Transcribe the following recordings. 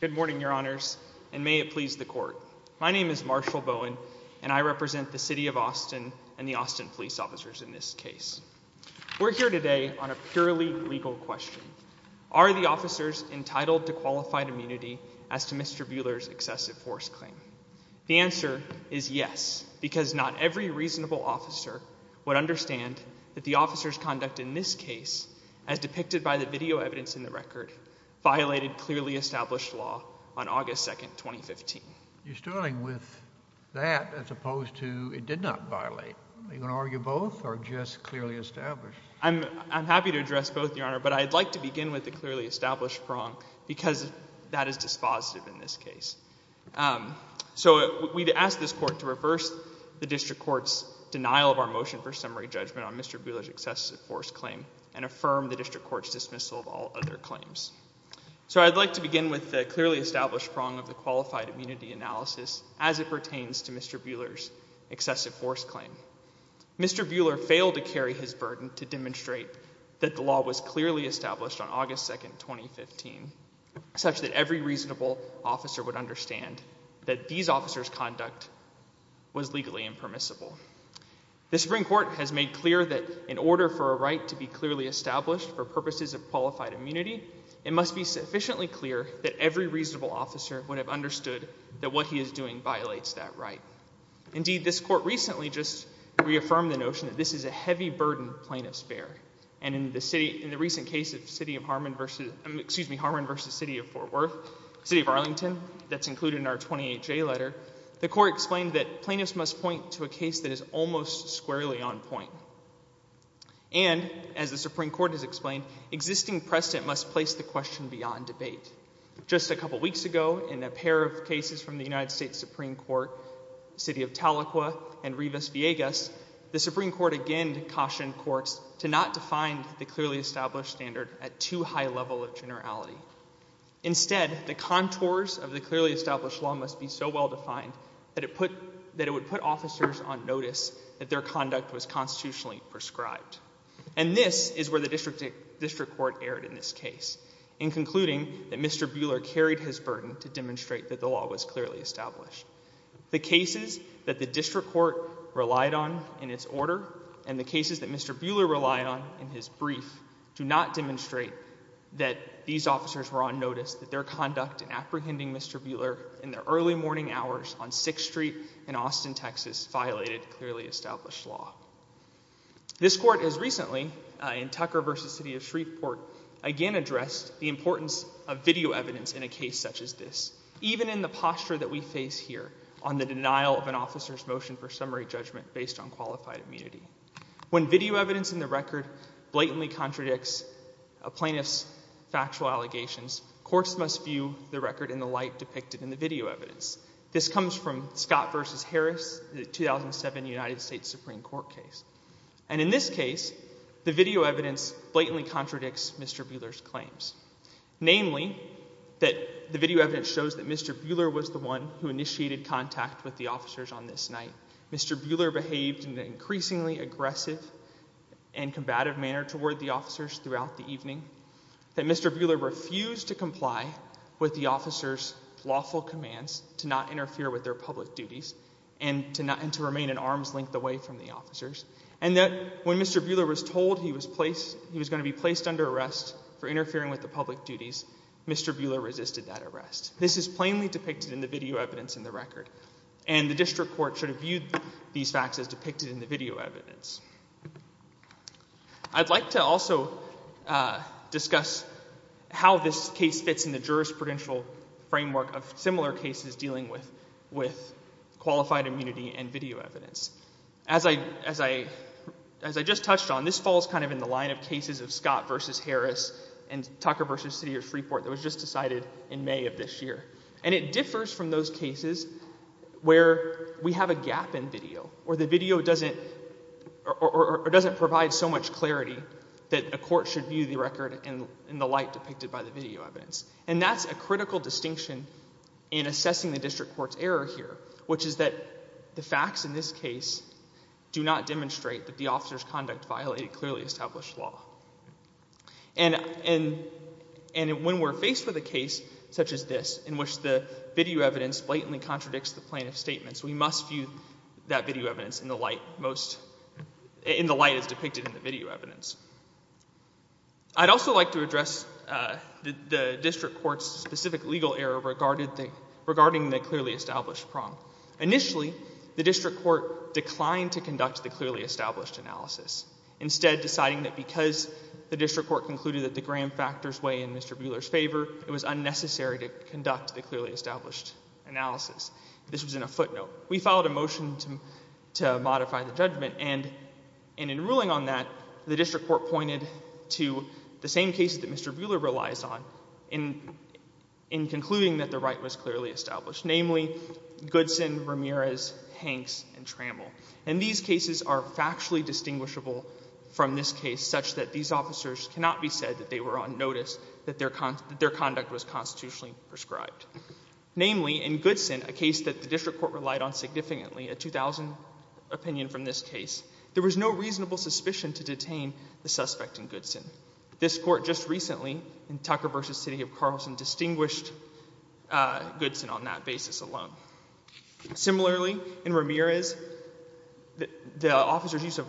Good morning, your honors, and may it please the court. My name is Marshall Bowen, and I represent the City of Austin and the Austin police officers in this case. We're here today on a purely legal question. Are the officers entitled to qualified immunity as to Mr. Buehler's excessive force claim? The answer is yes, because not every reasonable officer would understand that the officer's conduct in this case, as depicted by the video evidence in the record, violated clearly established law on August 2, 2015. You're starting with that as opposed to it did not violate. Are you going to argue both or just clearly established? I'm happy to address both, your honor, but I'd like to begin with the clearly established prong, because that is dispositive in this case. So we'd ask this court to reverse the district court's denial of our motion for summary judgment on Mr. Buehler's excessive force claim and affirm the district court's dismissal of all other claims. So I'd like to begin with the clearly established prong of the qualified immunity analysis as it pertains to Mr. Buehler's excessive force claim. Mr. Buehler failed to carry his burden to demonstrate that the law was clearly established on August 2, 2015, such that every reasonable officer would understand that these officers' conduct was legally impermissible. The Supreme Court has made clear that in order for a right to be clearly established for purposes of qualified immunity, it must be sufficiently clear that every reasonable officer would have understood that what he is doing violates that right. Indeed, this court recently just reaffirmed the notion that this is a heavy burden plaintiff's In the recent case of Harman v. City of Fort Worth, City of Arlington, that's included in our 28J letter, the court explained that plaintiffs must point to a case that is almost squarely on point. And as the Supreme Court has explained, existing precedent must place the question beyond debate. Just a couple weeks ago, in a pair of cases from the United States Supreme Court, City of Tahlequah and Rivas-Villegas, the Supreme Court again cautioned courts to not define the clearly established standard at too high a level of generality. Instead, the contours of the clearly established law must be so well defined that it would put officers on notice that their conduct was constitutionally prescribed. And this is where the district court erred in this case, in concluding that Mr. Buehler carried his burden to demonstrate that the law was clearly established. The cases that the district court relied on in its order and the cases that Mr. Buehler relied on in his brief do not demonstrate that these officers were on notice that their conduct in apprehending Mr. Buehler in the early morning hours on 6th Street in Austin, Texas, violated clearly established law. This court has recently, in Tucker v. City of Shreveport, again addressed the importance of video evidence in a case such as this, even in the posture that we face here on the denial of an officer's motion for summary judgment based on qualified immunity. When video evidence in the record blatantly contradicts a plaintiff's factual allegations, courts must view the record in the light depicted in the video evidence. This comes from Scott v. Harris, the 2007 United States Supreme Court case. And in this case, the video evidence blatantly contradicts Mr. Buehler's claims. Namely, that the video evidence shows that Mr. Buehler was the one who initiated contact with the officers on this night. Mr. Buehler behaved in an increasingly aggressive and combative manner toward the officers throughout the evening. That Mr. Buehler refused to comply with the officers' lawful commands to not interfere with their public duties and to remain at arm's length away from the officers. And that when Mr. Buehler was told he was going to be placed under arrest for interfering with the public duties, Mr. Buehler resisted that arrest. This is plainly depicted in the video evidence in the record. And the district court should have viewed these facts as depicted in the video evidence. I'd like to also discuss how this case fits in the jurisprudential framework of similar cases dealing with qualified immunity and video evidence. As I just touched on, this falls kind of in the line of cases of Scott v. Harris and Tucker v. City of Freeport that was just decided in May of this year. And it differs from those cases where we have a gap in video or the video doesn't provide so much clarity that a court should view the record in the light depicted by the video evidence. And that's a critical distinction in assessing the district court's error here, which is that the facts in this case do not demonstrate that the officers' conduct violated clearly established law. And when we're faced with a case such as this, in which the video evidence blatantly contradicts the plaintiff's statements, we must view that video evidence in the light most, in the light as depicted in the video evidence. I'd also like to address the district court's specific legal error regarding the clearly established prong. Initially, the district court declined to conduct the clearly established analysis, instead deciding that because the district court concluded that the gram factors weigh in Mr. Buehler's favor, it was unnecessary to conduct the clearly established analysis. This was in a footnote. We filed a motion to modify the judgment, and in ruling on that, the district court pointed to the same cases that Mr. Buehler relies on in concluding that the right was clearly established, namely, Goodson, Ramirez, Hanks, and Trammell. And these cases are factually distinguishable from this case, such that these officers cannot be said that they were on notice that their conduct was constitutionally prescribed. Namely, in Goodson, a case that the district court relied on significantly, a 2000 opinion from this case, there was no reasonable suspicion to detain the suspect in Goodson. This court just recently, in Tucker v. City of Carlson, distinguished Goodson on that basis alone. Similarly, in Ramirez, the officer's use of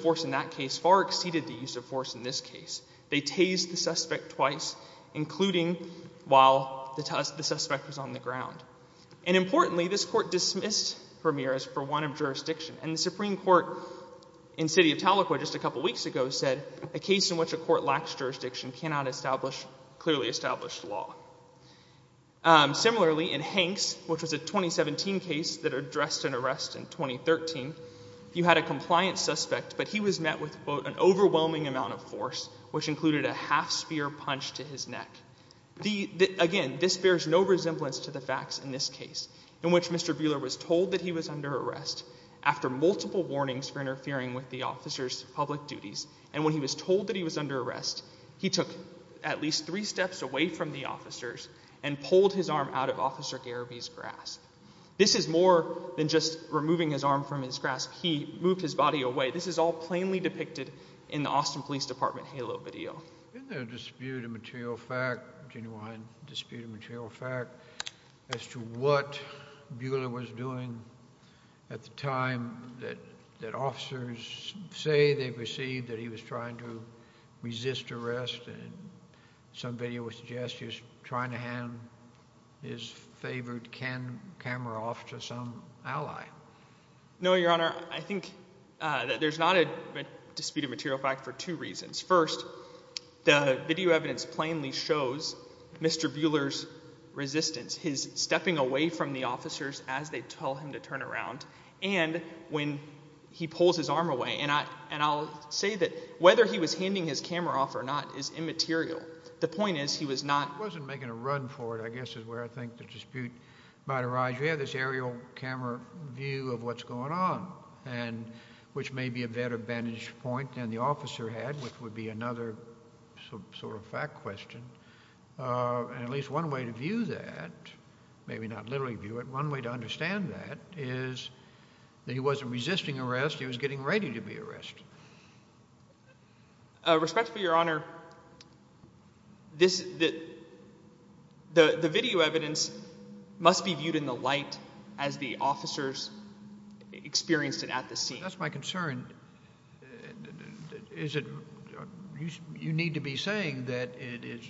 force in that case far exceeded the use of force in this case. They tased the suspect twice, including while the suspect was on the ground. And importantly, this court dismissed Ramirez for want of jurisdiction. And the Supreme Court in City of Tahlequah just a couple weeks ago said, a case in which a court lacks jurisdiction cannot establish clearly established law. Similarly, in Hanks, which was a 2017 case that addressed an arrest in 2013, you had a compliant suspect, but he was met with, quote, an overwhelming amount of force, which included a half-spear punch to his neck. Again, this bears no resemblance to the facts in this case, in which Mr. Buehler was told that he was under arrest after multiple warnings for interfering with the officer's public duties, and when he was told that he was under arrest, he took at least three steps away from the officers and pulled his arm out of Officer Gariby's grasp. This is more than just removing his arm from his grasp. He moved his body away. This is all plainly depicted in the Austin Police Department Halo video. Isn't there a dispute of material fact, a genuine dispute of material fact, as to what Buehler was doing at the time that officers say they perceived that he was trying to resist arrest, and some video would suggest he was trying to hand his favored camera off to some ally? No, Your Honor, I think that there's not a dispute of material fact for two reasons. First, the video evidence plainly shows Mr. Buehler's resistance, his stepping away from the officers as they tell him to turn around, and when he pulls his arm away. And I'll say that whether he was handing his camera off or not is immaterial. The point is, he was not... He wasn't making a run for it, I guess, is where I think the dispute might arise. You have this aerial camera view of what's going on, which may be a better vantage point than the officer had, which would be another sort of fact question, and at least one way to view that, maybe not literally view it, one way to understand that is that he wasn't resisting arrest, he was getting ready to be arrested. Respectfully, Your Honor, the video evidence must be viewed in the light as the officers experienced it at the scene. That's my concern. You need to be saying that it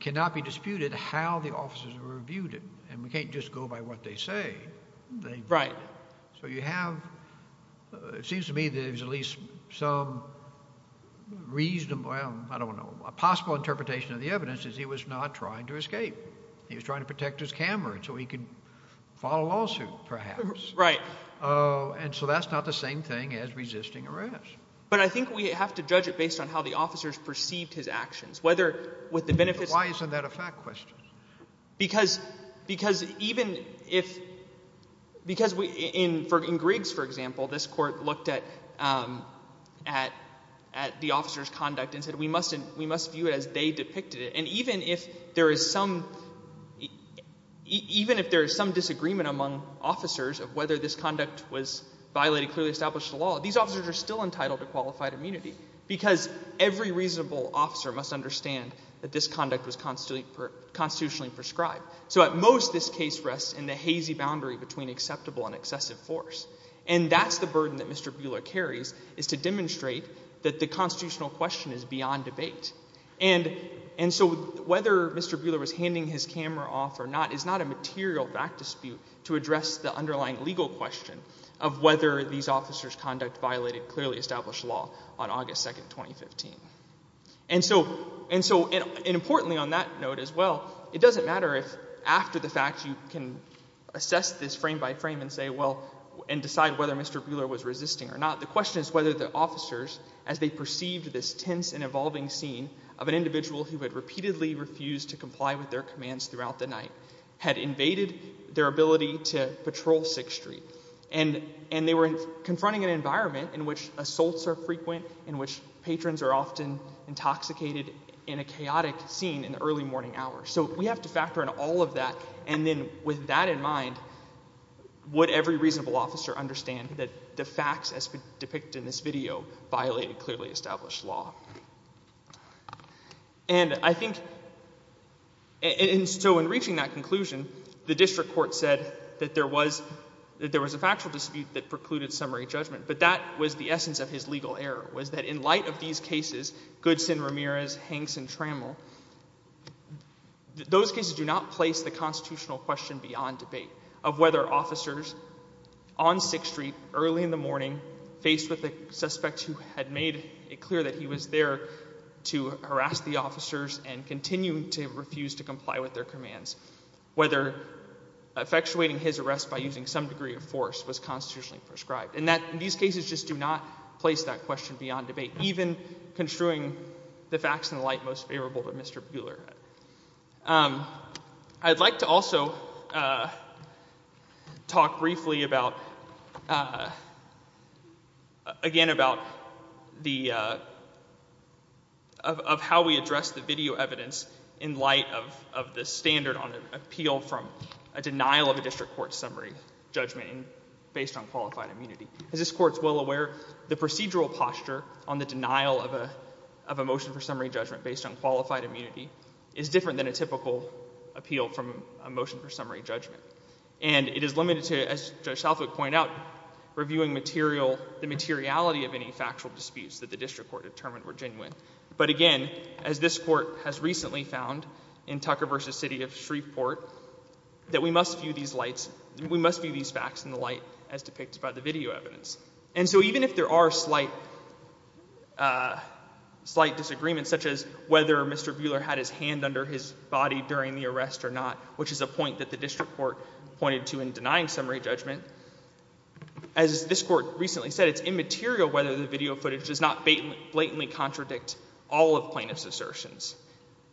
cannot be disputed how the officers were viewed it, and we can't just go by what they say. Right. So you have... It seems to me there's at least some reasonable, I don't know, a possible interpretation of the evidence is he was not trying to escape. He was trying to protect his camera so he could file a lawsuit, perhaps. Right. And so that's not the same thing as resisting arrest. But I think we have to judge it based on how the officers perceived his actions, whether with the benefits... Why isn't that a fact question? Because even if... Because in Griggs, for example, this court looked at the officer's conduct and said, we must view it as they depicted it. And even if there is some... Even if there is some disagreement among officers of whether this conduct was violating clearly established law, these officers are still entitled to qualified immunity. Because every reasonable officer must understand that this conduct was constitutionally prescribed. So at most this case rests in the hazy boundary between acceptable and excessive force. And that's the burden that Mr. Buehler carries, is to demonstrate that the constitutional question is beyond debate. And so whether Mr. Buehler was handing his camera off or not is not a material fact dispute to address the underlying legal question of whether these officers' conduct violated clearly established law on August 2nd, 2015. And so... And so... And importantly on that note as well, it doesn't matter if after the fact you can assess this frame by frame and say, well... And decide whether Mr. Buehler was resisting or not. The question is whether the officers, as they perceived this tense and evolving scene of an individual who had repeatedly refused to comply with their commands throughout the night, had invaded their ability to patrol 6th Street. And they were confronting an environment in which assaults are frequent, in which patrons are often intoxicated in a chaotic scene in the early morning hours. So we have to factor in all of that. And then with that in mind, would every reasonable officer understand that the facts as depicted in this video violated clearly established law? And I think... And so in reaching that conclusion, the district court said that there was a factual dispute that precluded summary judgment. But that was the essence of his legal error, was that in light of these cases, Goodson, Ramirez, Hanks, and Trammell, those cases do not place the constitutional question beyond debate of whether officers on 6th Street early in the morning, faced with a suspect who had made it clear that he was there to harass the officers and continue to refuse to comply with their commands, whether effectuating his arrest by using some degree of force was constitutionally prescribed. And that, in these cases, just do not place that question beyond debate, even construing the facts in the light most favorable to Mr. Buehler. I'd like to also talk briefly about, again, about how we address the video evidence in light of the standard on appeal from a denial of a district court summary judgment based on qualified immunity. As this court is well aware, the procedural posture on the denial of a motion for summary judgment based on qualified immunity is different than a typical appeal from a motion for summary judgment. And it is limited to, as Judge Southwick pointed out, reviewing the materiality of any factual disputes that the district court determined were genuine. But again, as this court has recently found in Tucker v. City of Shreveport, that we must view these facts in the light as depicted by the video evidence. And so even if there are slight disagreements, such as whether Mr. Buehler had his hand under his body during the arrest or not, which is a point that the district court pointed to in denying summary judgment, as this court recently said, it's immaterial whether the video footage does not blatantly contradict all of plaintiff's assertions.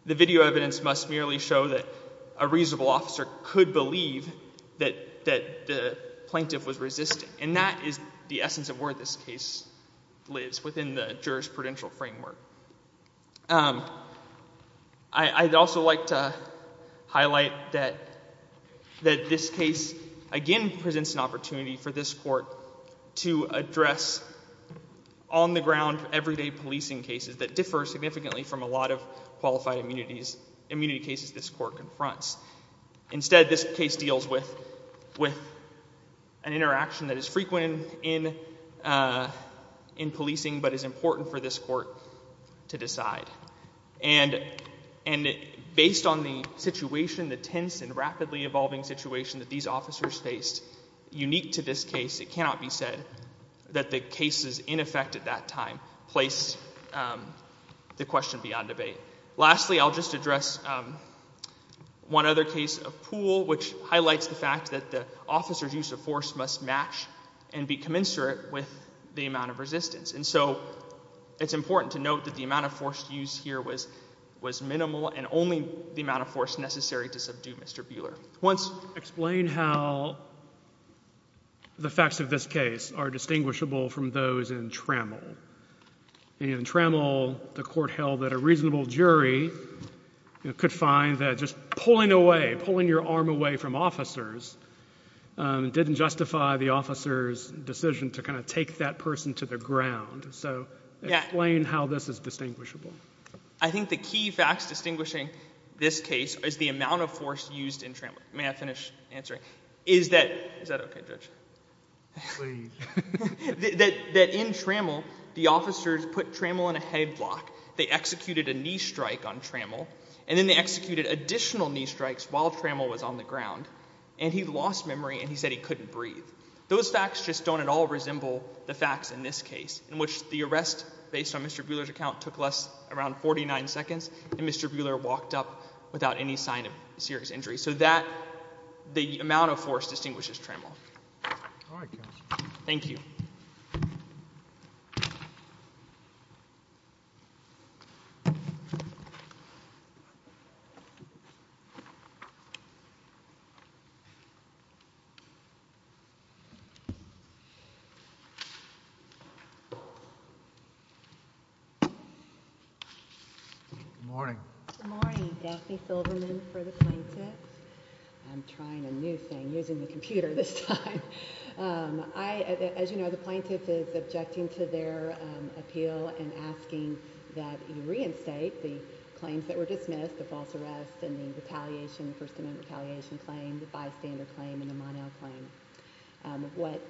The video evidence must merely show that a reasonable officer could believe that the plaintiff was resisting. And that is the essence of where this case lives within the jurisprudential framework. I'd also like to highlight that this case, again, presents an opportunity for this court to address on-the-ground, everyday policing cases that differ significantly from a lot of qualified immunity cases this court confronts. Instead, this case deals with an interaction that is frequent in policing, but is important for this court to decide. And based on the situation, the tense and rapidly evolving situation that these officers faced, unique to this case, it cannot be said that the cases in effect at that time place the question beyond debate. Lastly, I'll just address one other case of Poole, which highlights the fact that the officer's use of force must match and be commensurate with the amount of resistance. And so it's important to note that the amount of force used here was minimal and only the amount of force necessary to subdue Mr. Buehler. Once Explain how the facts of this case are distinguishable from those in Trammell. In Trammell, the court held that a reasonable jury could find that just pulling away, pulling your arm away from officers, didn't justify the officer's decision to kind of take that person to the ground. So explain how this is distinguishable. I think the key facts distinguishing this case is the amount of force used in Trammell. May I finish answering? Is that okay, Judge? Please. That in Trammell, the officers put Trammell in a headlock, they executed a knee strike on Trammell, and then they executed additional knee strikes while Trammell was on the ground. And he lost memory and he said he couldn't breathe. Those facts just don't at all resemble the facts in this case, in which the arrest, based on Mr. Buehler's account, took less than 49 seconds, and Mr. Buehler walked up without any sign of serious injury. So that, the amount of force distinguishes Trammell. All right, Counselor. Thank you. Good morning. Good morning. Daphne Silverman for the plaintiffs. I'm trying a new thing, using the computer this time. As you know, the plaintiff is objecting to their appeal and asking that you reinstate the claims that were dismissed, the false arrest and the retaliation, the First Amendment retaliation claim, the bystander claim, and the Monell claim. What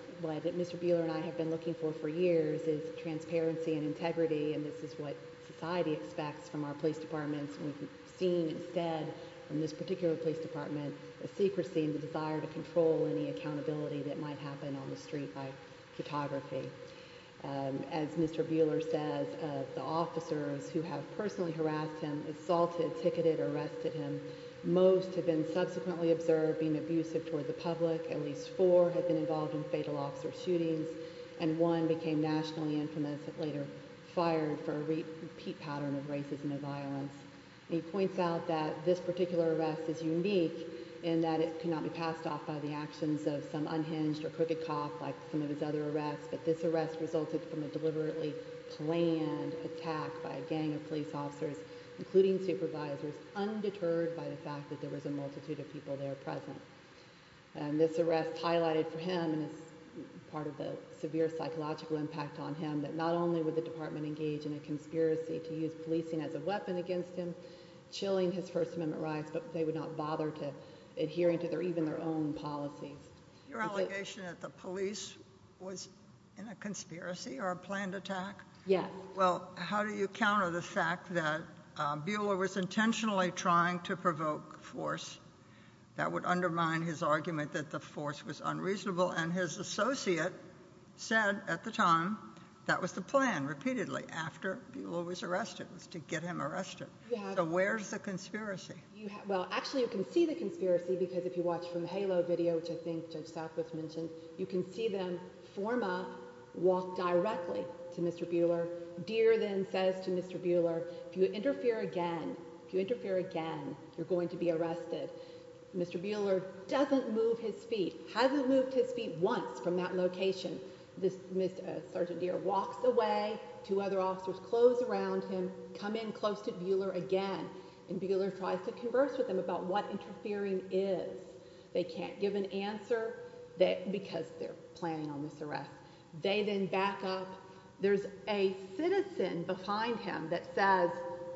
Mr. Buehler and I have been looking for for years is transparency and integrity, and this is what society expects from our police departments. We've seen, instead, from this particular police department, a secrecy and a desire to control any accountability that might happen on the street by photography. As Mr. Buehler says, the officers who have personally harassed him, assaulted, ticketed, arrested him, most have been subsequently observed being abusive toward the public, at least four have been involved in fatal officer shootings, and one became nationally infamous and later fired for a repeat pattern of racism and violence. He points out that this particular arrest is unique in that it cannot be passed off by the actions of some unhinged or crooked cop like some of his other arrests, but this arrest resulted from a deliberately planned attack by a gang of police officers, including supervisors, undeterred by the fact that there was a multitude of people there present. This arrest highlighted for him, and it's part of the severe psychological impact on him, that not only would the department engage in a conspiracy to use policing as a weapon against him, chilling his First Amendment rights, but they would not bother adhering to even their own policies. Your allegation that the police was in a conspiracy or a planned attack? Yes. Well, how do you counter the fact that Buehler was intentionally trying to provoke force that would undermine his argument that the force was unreasonable, and his associate said at the time that was the plan, repeatedly, after Buehler was arrested, was to get him arrested. Yeah. So where's the conspiracy? Well, actually, you can see the conspiracy because if you watch from the Halo video, which I think Judge Southwest mentioned, you can see them form up, walk directly to Mr. Buehler. Deere then says to Mr. Buehler, if you interfere again, if you interfere again, you're going to be arrested. Mr. Buehler doesn't move his feet, hasn't moved his feet once from that location. Sergeant Deere walks away, two other officers close around him, come in close to Buehler again, and Buehler tries to converse with him about what interfering is. They can't give an answer because they're planning on this arrest. They then back up. There's a citizen behind him that says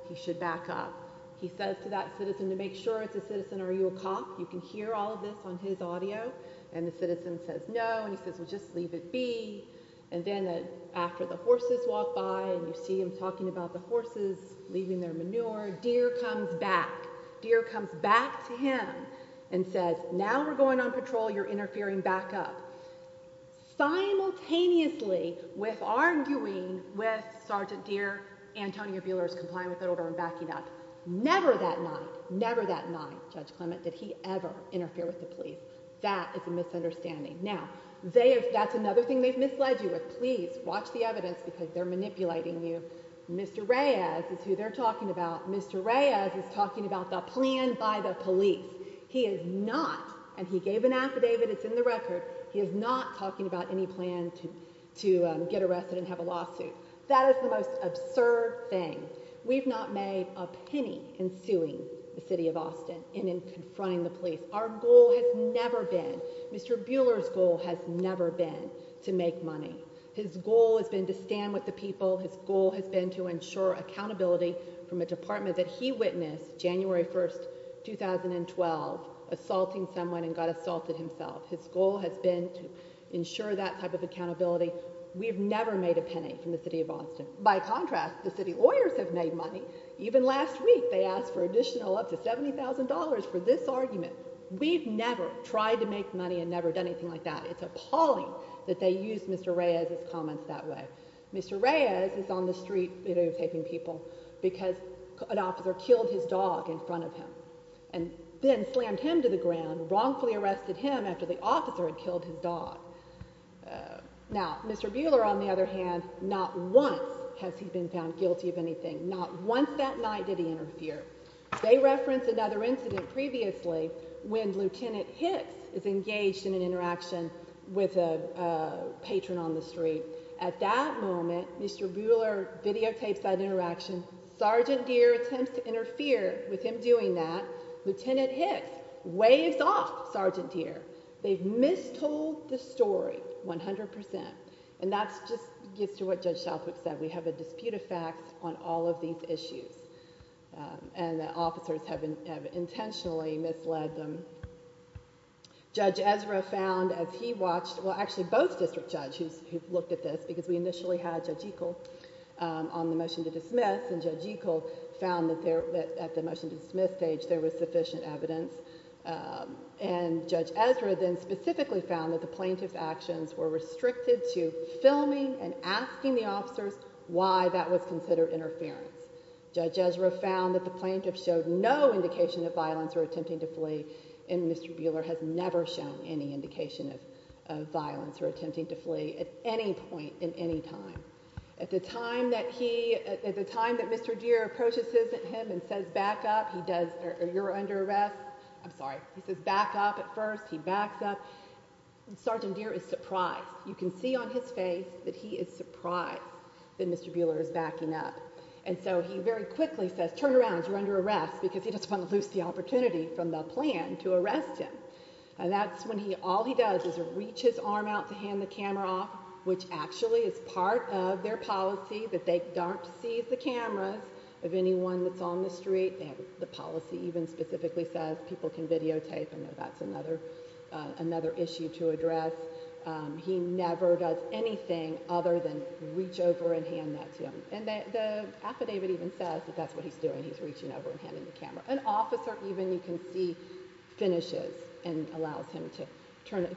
he should back up. He says to that citizen to make sure it's a citizen, are you a cop? You can hear all of this on his audio. And the citizen says no, and he says, well, just leave it be. And then after the horses walk by and you see him talking about the horses leaving their manure, Deere comes back. Deere comes back to him and says, now we're going on patrol, you're interfering, back up. Simultaneously with arguing with Sergeant Deere, Antonio Buehler is complying with the arrest. Never that night, never that night, Judge Clement, did he ever interfere with the police. That is a misunderstanding. Now, that's another thing they've misled you with. Please watch the evidence because they're manipulating you. Mr. Reyes is who they're talking about. Mr. Reyes is talking about the plan by the police. He is not, and he gave an affidavit, it's in the record, he is not talking about any plan to get arrested and have a lawsuit. That is the most absurd thing. We've not made a penny in suing the city of Austin and in confronting the police. Our goal has never been, Mr. Buehler's goal has never been to make money. His goal has been to stand with the people. His goal has been to ensure accountability from a department that he witnessed January 1st, 2012, assaulting someone and got assaulted himself. His goal has been to ensure that type of accountability. We've never made a penny from the city of Austin. By contrast, the city lawyers have made money. Even last week they asked for additional up to $70,000 for this argument. We've never tried to make money and never done anything like that. It's appalling that they used Mr. Reyes's comments that way. Mr. Reyes is on the street videotaping people because an officer killed his dog in front of him and then slammed him to the ground, wrongfully arrested him after the officer had killed his dog. Now, Mr. Buehler, on the other hand, not once has he been found guilty of anything. Not once that night did he interfere. They referenced another incident previously when Lieutenant Hicks is engaged in an interaction with a patron on the street. At that moment, Mr. Buehler videotapes that interaction. Sergeant Deer attempts to interfere with him doing that. Lieutenant Hicks waves off Sergeant Deer. They've mistold the story 100%. And that just gets to what Judge Southwick said. We have a dispute of facts on all of these issues. And the officers have intentionally misled them. Judge Ezra found, as he watched, well actually both district judges who looked at this, because we initially had Judge Ekel on the motion to dismiss, and Judge Ekel found that at the motion to dismiss stage there was sufficient evidence. And Judge Ezra then specifically found that the plaintiff's actions were restricted to filming and asking the officers why that was considered interference. Judge Ezra found that the plaintiff showed no indication of violence or attempting to flee, and Mr. Buehler has never shown any indication of violence or attempting to flee at any point in any time. At the time that he, at the time that Mr. Deer approaches him and says, back up, you're under arrest, I'm sorry, he says back up at first, he backs up, Sergeant Deer is surprised. You can see on his face that he is surprised that Mr. Buehler is backing up. And so he very quickly says, turn around, you're under arrest, because he doesn't want to lose the opportunity from the plan to arrest him. And that's when all he does is reach his arm out to hand the camera off, which actually is part of their policy that they don't seize the cameras of anyone that's on the street, and the policy even specifically says people can videotape. I know that's another issue to address. He never does anything other than reach over and hand that to him. And the affidavit even says that that's what he's doing, he's reaching over and handing the camera. An officer even, you can see, finishes and allows him to turn it,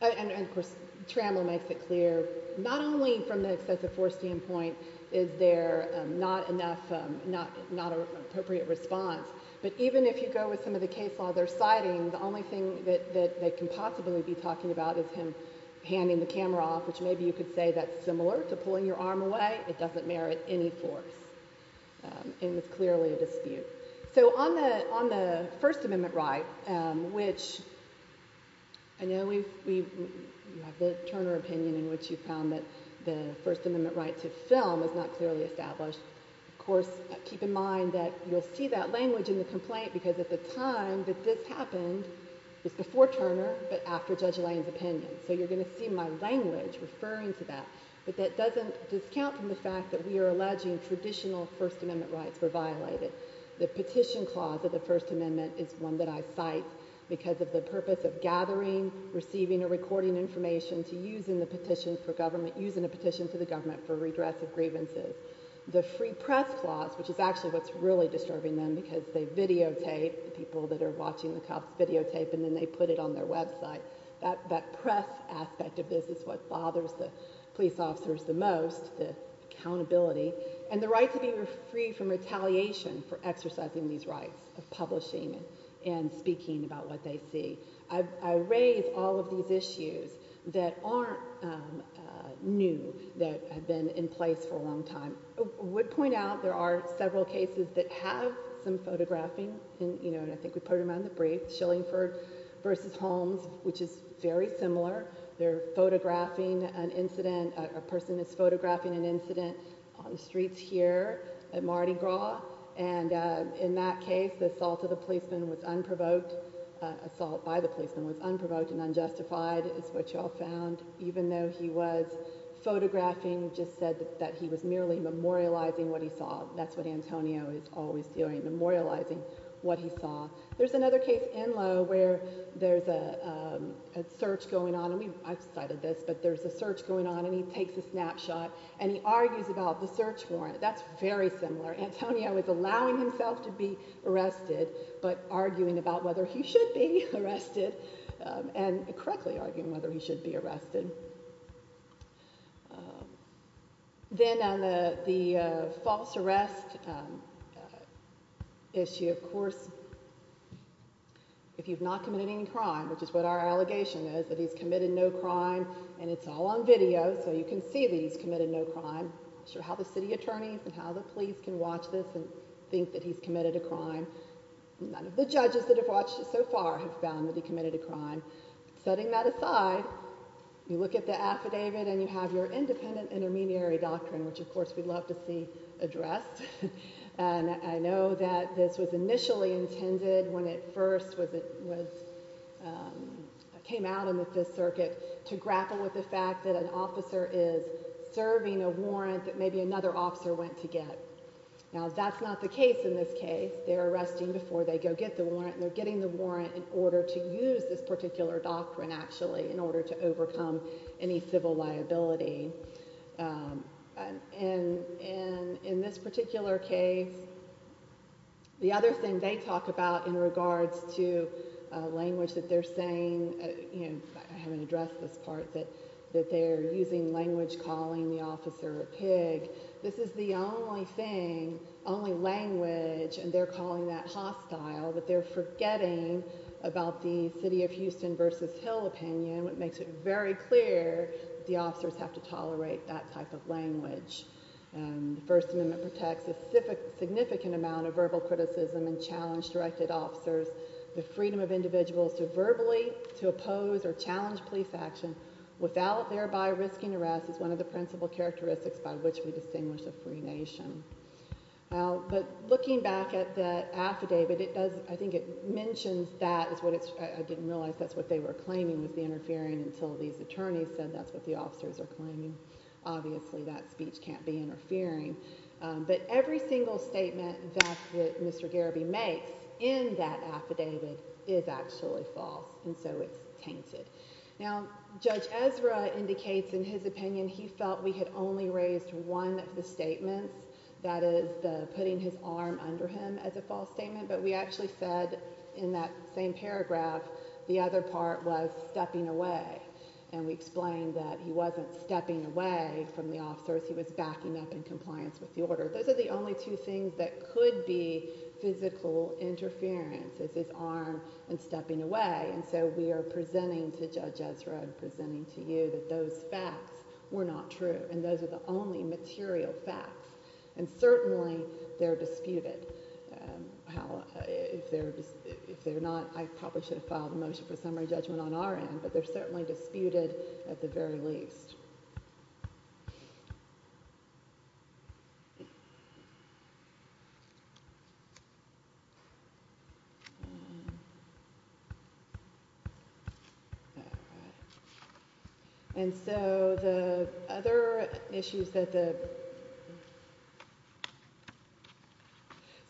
And, of course, Trammell makes it clear, not only from the excessive force standpoint is there not enough, not an appropriate response, but even if you go with some of the case law they're citing, the only thing that they can possibly be talking about is him handing the camera off, which maybe you could say that's similar to pulling your arm away, it doesn't merit any force, and it's clearly a dispute. So on the First Amendment right, which I know you have the Turner opinion in which you found that the First Amendment right to film is not clearly established. Of course, keep in mind that you'll see that language in the complaint because at the time that this happened, it was before Turner, but after Judge Lane's opinion. So you're going to see my language referring to that, but that doesn't discount from the fact that we are alleging traditional First Amendment rights were violated. The petition clause of the First Amendment is one that I cite because of the purpose of gathering, receiving, or recording information to use in a petition to the government for redress of grievances. The free press clause, which is actually what's really disturbing them because they videotape the people that are watching the cops videotape, and then they put it on their website. That press aspect of this is what bothers the police officers the most, the accountability. And the right to be free from retaliation for exercising these rights of publishing and speaking about what they see. I raise all of these issues that aren't new, that have been in place for a long time. I would point out there are several cases that have some photographing, and I think we put them on the brief, Schillingford v. Holmes, which is very similar. They're photographing an incident, a person is photographing an incident on the streets here at Mardi Gras. And in that case, the assault of the policeman was unprovoked. Assault by the policeman was unprovoked and unjustified, is what y'all found. Even though he was photographing, just said that he was merely memorializing what he saw. That's what Antonio is always doing, memorializing what he saw. There's another case in Lowe where there's a search going on, and I've cited this, but there's a search going on and he takes a snapshot and he argues about the search warrant. That's very similar. Antonio is allowing himself to be arrested but arguing about whether he should be arrested and correctly arguing whether he should be arrested. Then on the false arrest issue, of course, if you've not committed any crime, which is what our allegation is, that he's committed no crime, and it's all on video, so you can see that he's committed no crime. I'm not sure how the city attorneys and how the police can watch this and think that he's committed a crime. None of the judges that have watched this so far have found that he committed a crime. Setting that aside, you look at the affidavit and you have your independent intermediary doctrine, which, of course, we'd love to see addressed. I know that this was initially intended when it first came out in the Fifth Circuit to grapple with the fact that an officer is serving a warrant that maybe another officer went to get. Now, that's not the case in this case. They're arresting before they go get the warrant, and they're getting the warrant in order to use this particular doctrine, actually, in order to overcome any civil liability. In this particular case, the other thing they talk about in regards to language that they're saying, I haven't addressed this part, that they're using language calling the officer a pig. This is the only thing, only language, and they're calling that hostile, that they're forgetting about the City of Houston v. Hill opinion, which makes it very clear that the officers have to tolerate that type of language. The First Amendment protects a significant amount of verbal criticism and challenge directed officers. The freedom of individuals to verbally oppose or challenge police action without thereby risking arrest is one of the principal characteristics by which we distinguish a free nation. But looking back at that affidavit, I think it mentions that. I didn't realize that's what they were claiming was the interfering until these attorneys said that's what the officers are claiming. Obviously, that speech can't be interfering. But every single statement that Mr. Gariby makes in that affidavit is actually false, and so it's tainted. Now, Judge Ezra indicates in his opinion he felt we had only raised one of the statements, that is, putting his arm under him, as a false statement. But we actually said in that same paragraph the other part was stepping away. And we explained that he wasn't stepping away from the officers. He was backing up in compliance with the order. Those are the only two things that could be physical interference is his arm and stepping away. And so we are presenting to Judge Ezra and presenting to you that those facts were not true, and those are the only material facts, and certainly they're disputed. If they're not, I probably should have filed a motion for summary judgment on our end, but they're certainly disputed at the very least. And so the other issues that the—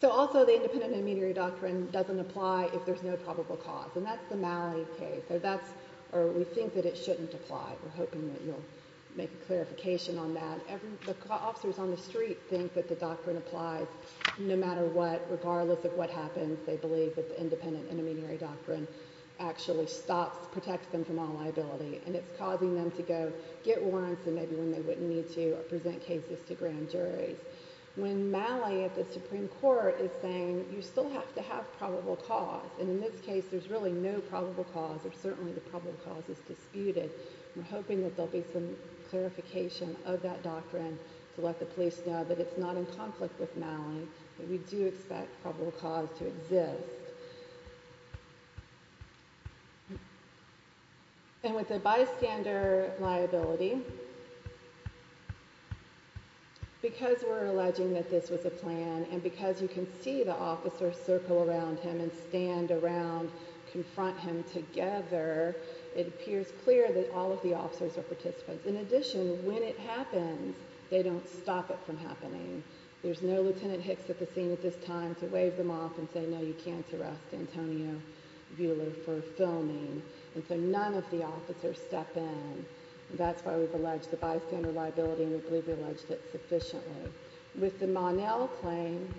So also the independent intermediary doctrine doesn't apply if there's no probable cause, and that's the Malley case, or we think that it shouldn't apply. We're hoping that you'll make a clarification on that. The officers on the street think that the doctrine applies no matter what, regardless of what happens. They believe that the independent intermediary doctrine actually stops, protects them from all liability, and it's causing them to go get warrants and maybe when they wouldn't need to present cases to grand juries. When Malley at the Supreme Court is saying you still have to have probable cause, and in this case there's really no probable cause, or certainly the probable cause is disputed, we're hoping that there'll be some clarification of that doctrine to let the police know that it's not in conflict with Malley, but we do expect probable cause to exist. And with the bystander liability, because we're alleging that this was a plan and because you can see the officers circle around him and stand around, confront him together, it appears clear that all of the officers are participants. In addition, when it happens, they don't stop it from happening. There's no Lt. Hicks at the scene at this time to wave them off and say, no, you can't arrest Antonio Buehler for filming, and so none of the officers step in. That's why we've alleged the bystander liability, and we believe we've alleged it sufficiently. With the Monell claim,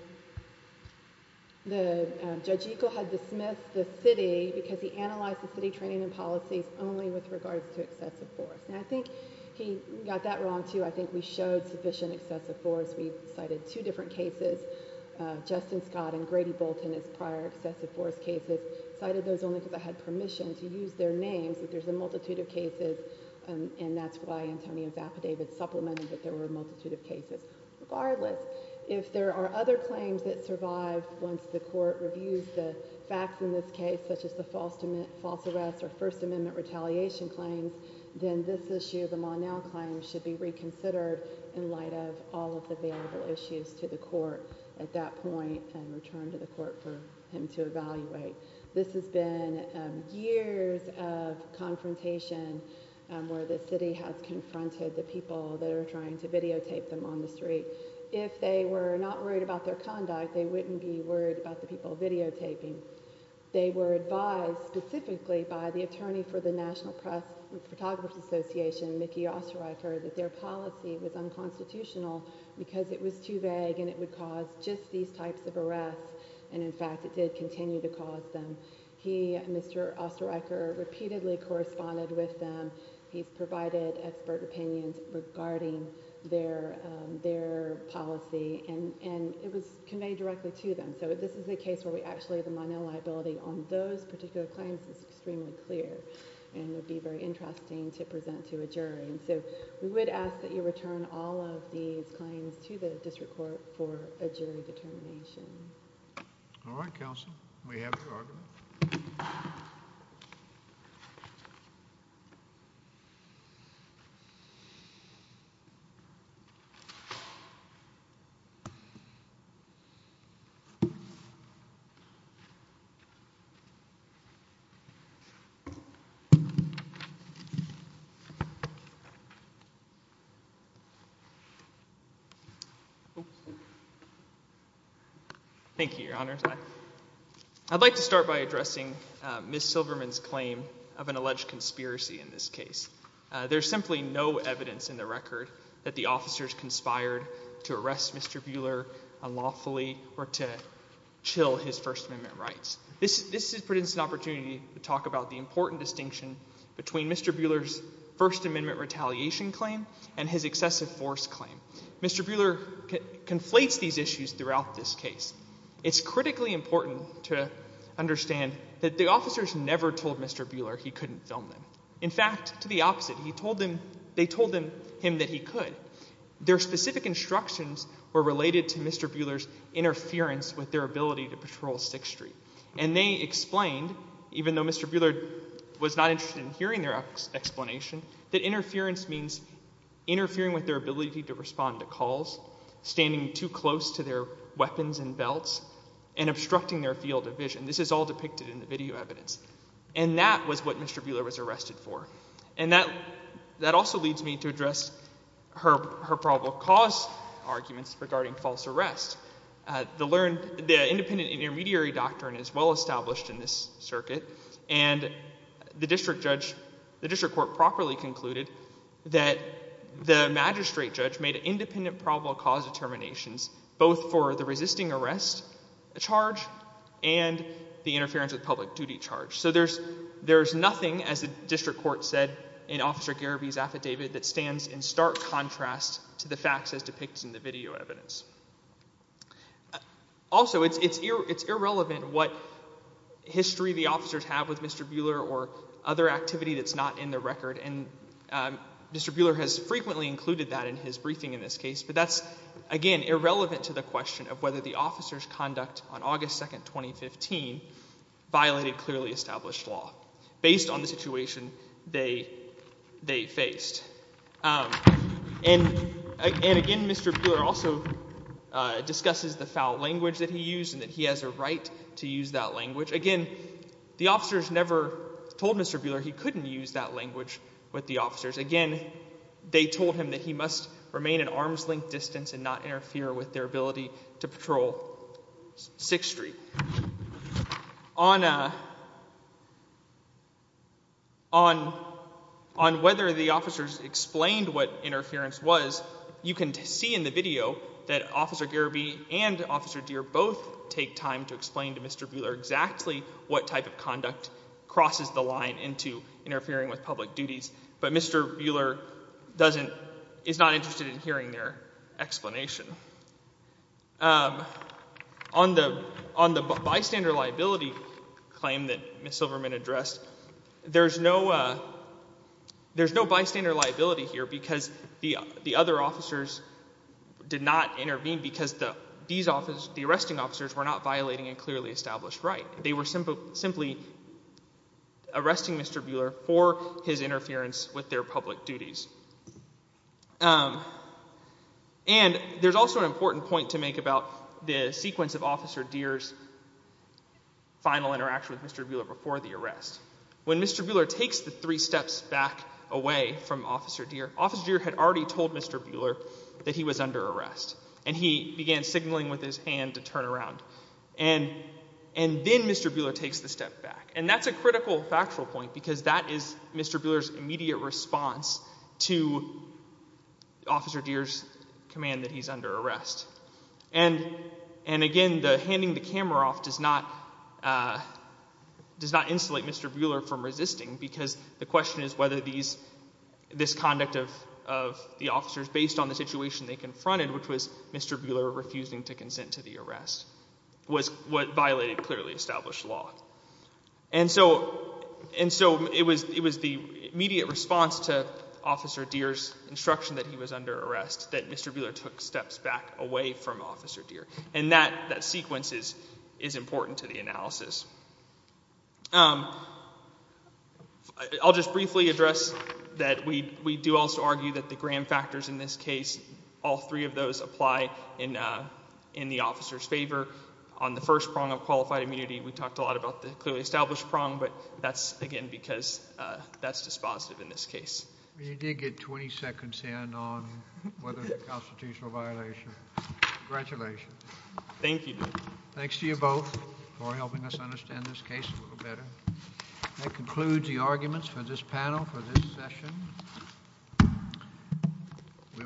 Judge Eco had dismissed the city because he analyzed the city training and policies only with regards to excessive force. And I think he got that wrong, too. I think we showed sufficient excessive force. We cited two different cases, Justin Scott and Grady Bolton as prior excessive force cases. Cited those only because I had permission to use their names, but there's a multitude of cases, and that's why Antonio's affidavit supplemented that there were a multitude of cases. Regardless, if there are other claims that survive once the court reviews the facts in this case, such as the false arrest or First Amendment retaliation claims, then this issue, the Monell claim, should be reconsidered in light of all of the available issues to the court at that point This has been years of confrontation where the city has confronted the people that are trying to videotape them on the street. If they were not worried about their conduct, they wouldn't be worried about the people videotaping. They were advised specifically by the attorney for the National Press and Photographers Association, Mickey Osterreicher, that their policy was unconstitutional because it was too vague and it would cause just these types of arrests. And, in fact, it did continue to cause them. He and Mr. Osterreicher repeatedly corresponded with them. He's provided expert opinions regarding their policy, and it was conveyed directly to them. So this is a case where we actually, the Monell liability on those particular claims is extremely clear and would be very interesting to present to a jury. So we would ask that you return all of these claims to the district court for a jury determination. All right, counsel. We have your argument. Thank you, Your Honor. I'd like to start by addressing Ms. Silverman's claim of an alleged conspiracy in this case. There's simply no evidence in the record that the officers conspired to arrest Mr. Buehler unlawfully or to chill his First Amendment rights. This presents an opportunity to talk about the important distinction between Mr. Buehler's First Amendment retaliation claim and his excessive force claim. Mr. Buehler conflates these issues throughout this case. It's critically important to understand that the officers never told Mr. Buehler he couldn't film them. In fact, to the opposite, they told him that he could. Their specific instructions were related to Mr. Buehler's interference with their ability to patrol 6th Street. And they explained, even though Mr. Buehler was not interested in hearing their explanation, that interference means interfering with their ability to respond to calls, standing too close to their weapons and belts, and obstructing their field of vision. This is all depicted in the video evidence. And that was what Mr. Buehler was arrested for. And that also leads me to address her probable cause arguments regarding false arrest. The independent and intermediary doctrine is well established in this circuit. And the district court properly concluded that the magistrate judge made independent probable cause determinations both for the resisting arrest charge and the interference with public duty charge. So there's nothing, as the district court said in Officer Garaby's affidavit, that stands in stark contrast to the facts as depicted in the video evidence. Also, it's irrelevant what history the officers have with Mr. Buehler or other activity that's not in the record. And Mr. Buehler has frequently included that in his briefing in this case. But that's, again, irrelevant to the question of whether the officers' conduct on August 2, 2015 violated clearly established law based on the situation they faced. And, again, Mr. Buehler also discusses the foul language that he used and that he has a right to use that language. Again, the officers never told Mr. Buehler he couldn't use that language with the officers. Again, they told him that he must remain at arm's length distance and not interfere with their ability to patrol 6th Street. On whether the officers explained what interference was, you can see in the video that Officer Garaby and Officer Deer both take time to explain to Mr. Buehler exactly what type of conduct crosses the line into interfering with public duties. But Mr. Buehler is not interested in hearing their explanation. On the bystander liability claim that Ms. Silverman addressed, there's no bystander liability here because the other officers did not intervene because the arresting officers were not violating a clearly established right. They were simply arresting Mr. Buehler for his interference with their public duties. And there's also an important point to make about the sequence of Officer Deer's final interaction with Mr. Buehler before the arrest. When Mr. Buehler takes the three steps back away from Officer Deer, Officer Deer had already told Mr. Buehler that he was under arrest. And he began signaling with his hand to turn around. And then Mr. Buehler takes the step back. And that's a critical factual point because that is Mr. Buehler's immediate response to Officer Deer's command that he's under arrest. And again, the handing the camera off does not insulate Mr. Buehler from resisting because the question is whether this conduct of the officers based on the situation they confronted, which was Mr. Buehler refusing to consent to the arrest, was what violated clearly established law. And so it was the immediate response to Officer Deer's instruction that he was under arrest that Mr. Buehler took steps back away from Officer Deer. And that sequence is important to the analysis. I'll just briefly address that we do also argue that the gram factors in this case, all three of those apply in the officer's favor. On the first prong of qualified immunity, we talked a lot about the clearly established prong. But that's, again, because that's dispositive in this case. You did get 20 seconds in on whether it constitutes a violation. Congratulations. Thank you. Thanks to you both for helping us understand this case a little better. That concludes the arguments for this panel for this session. We are adjourned.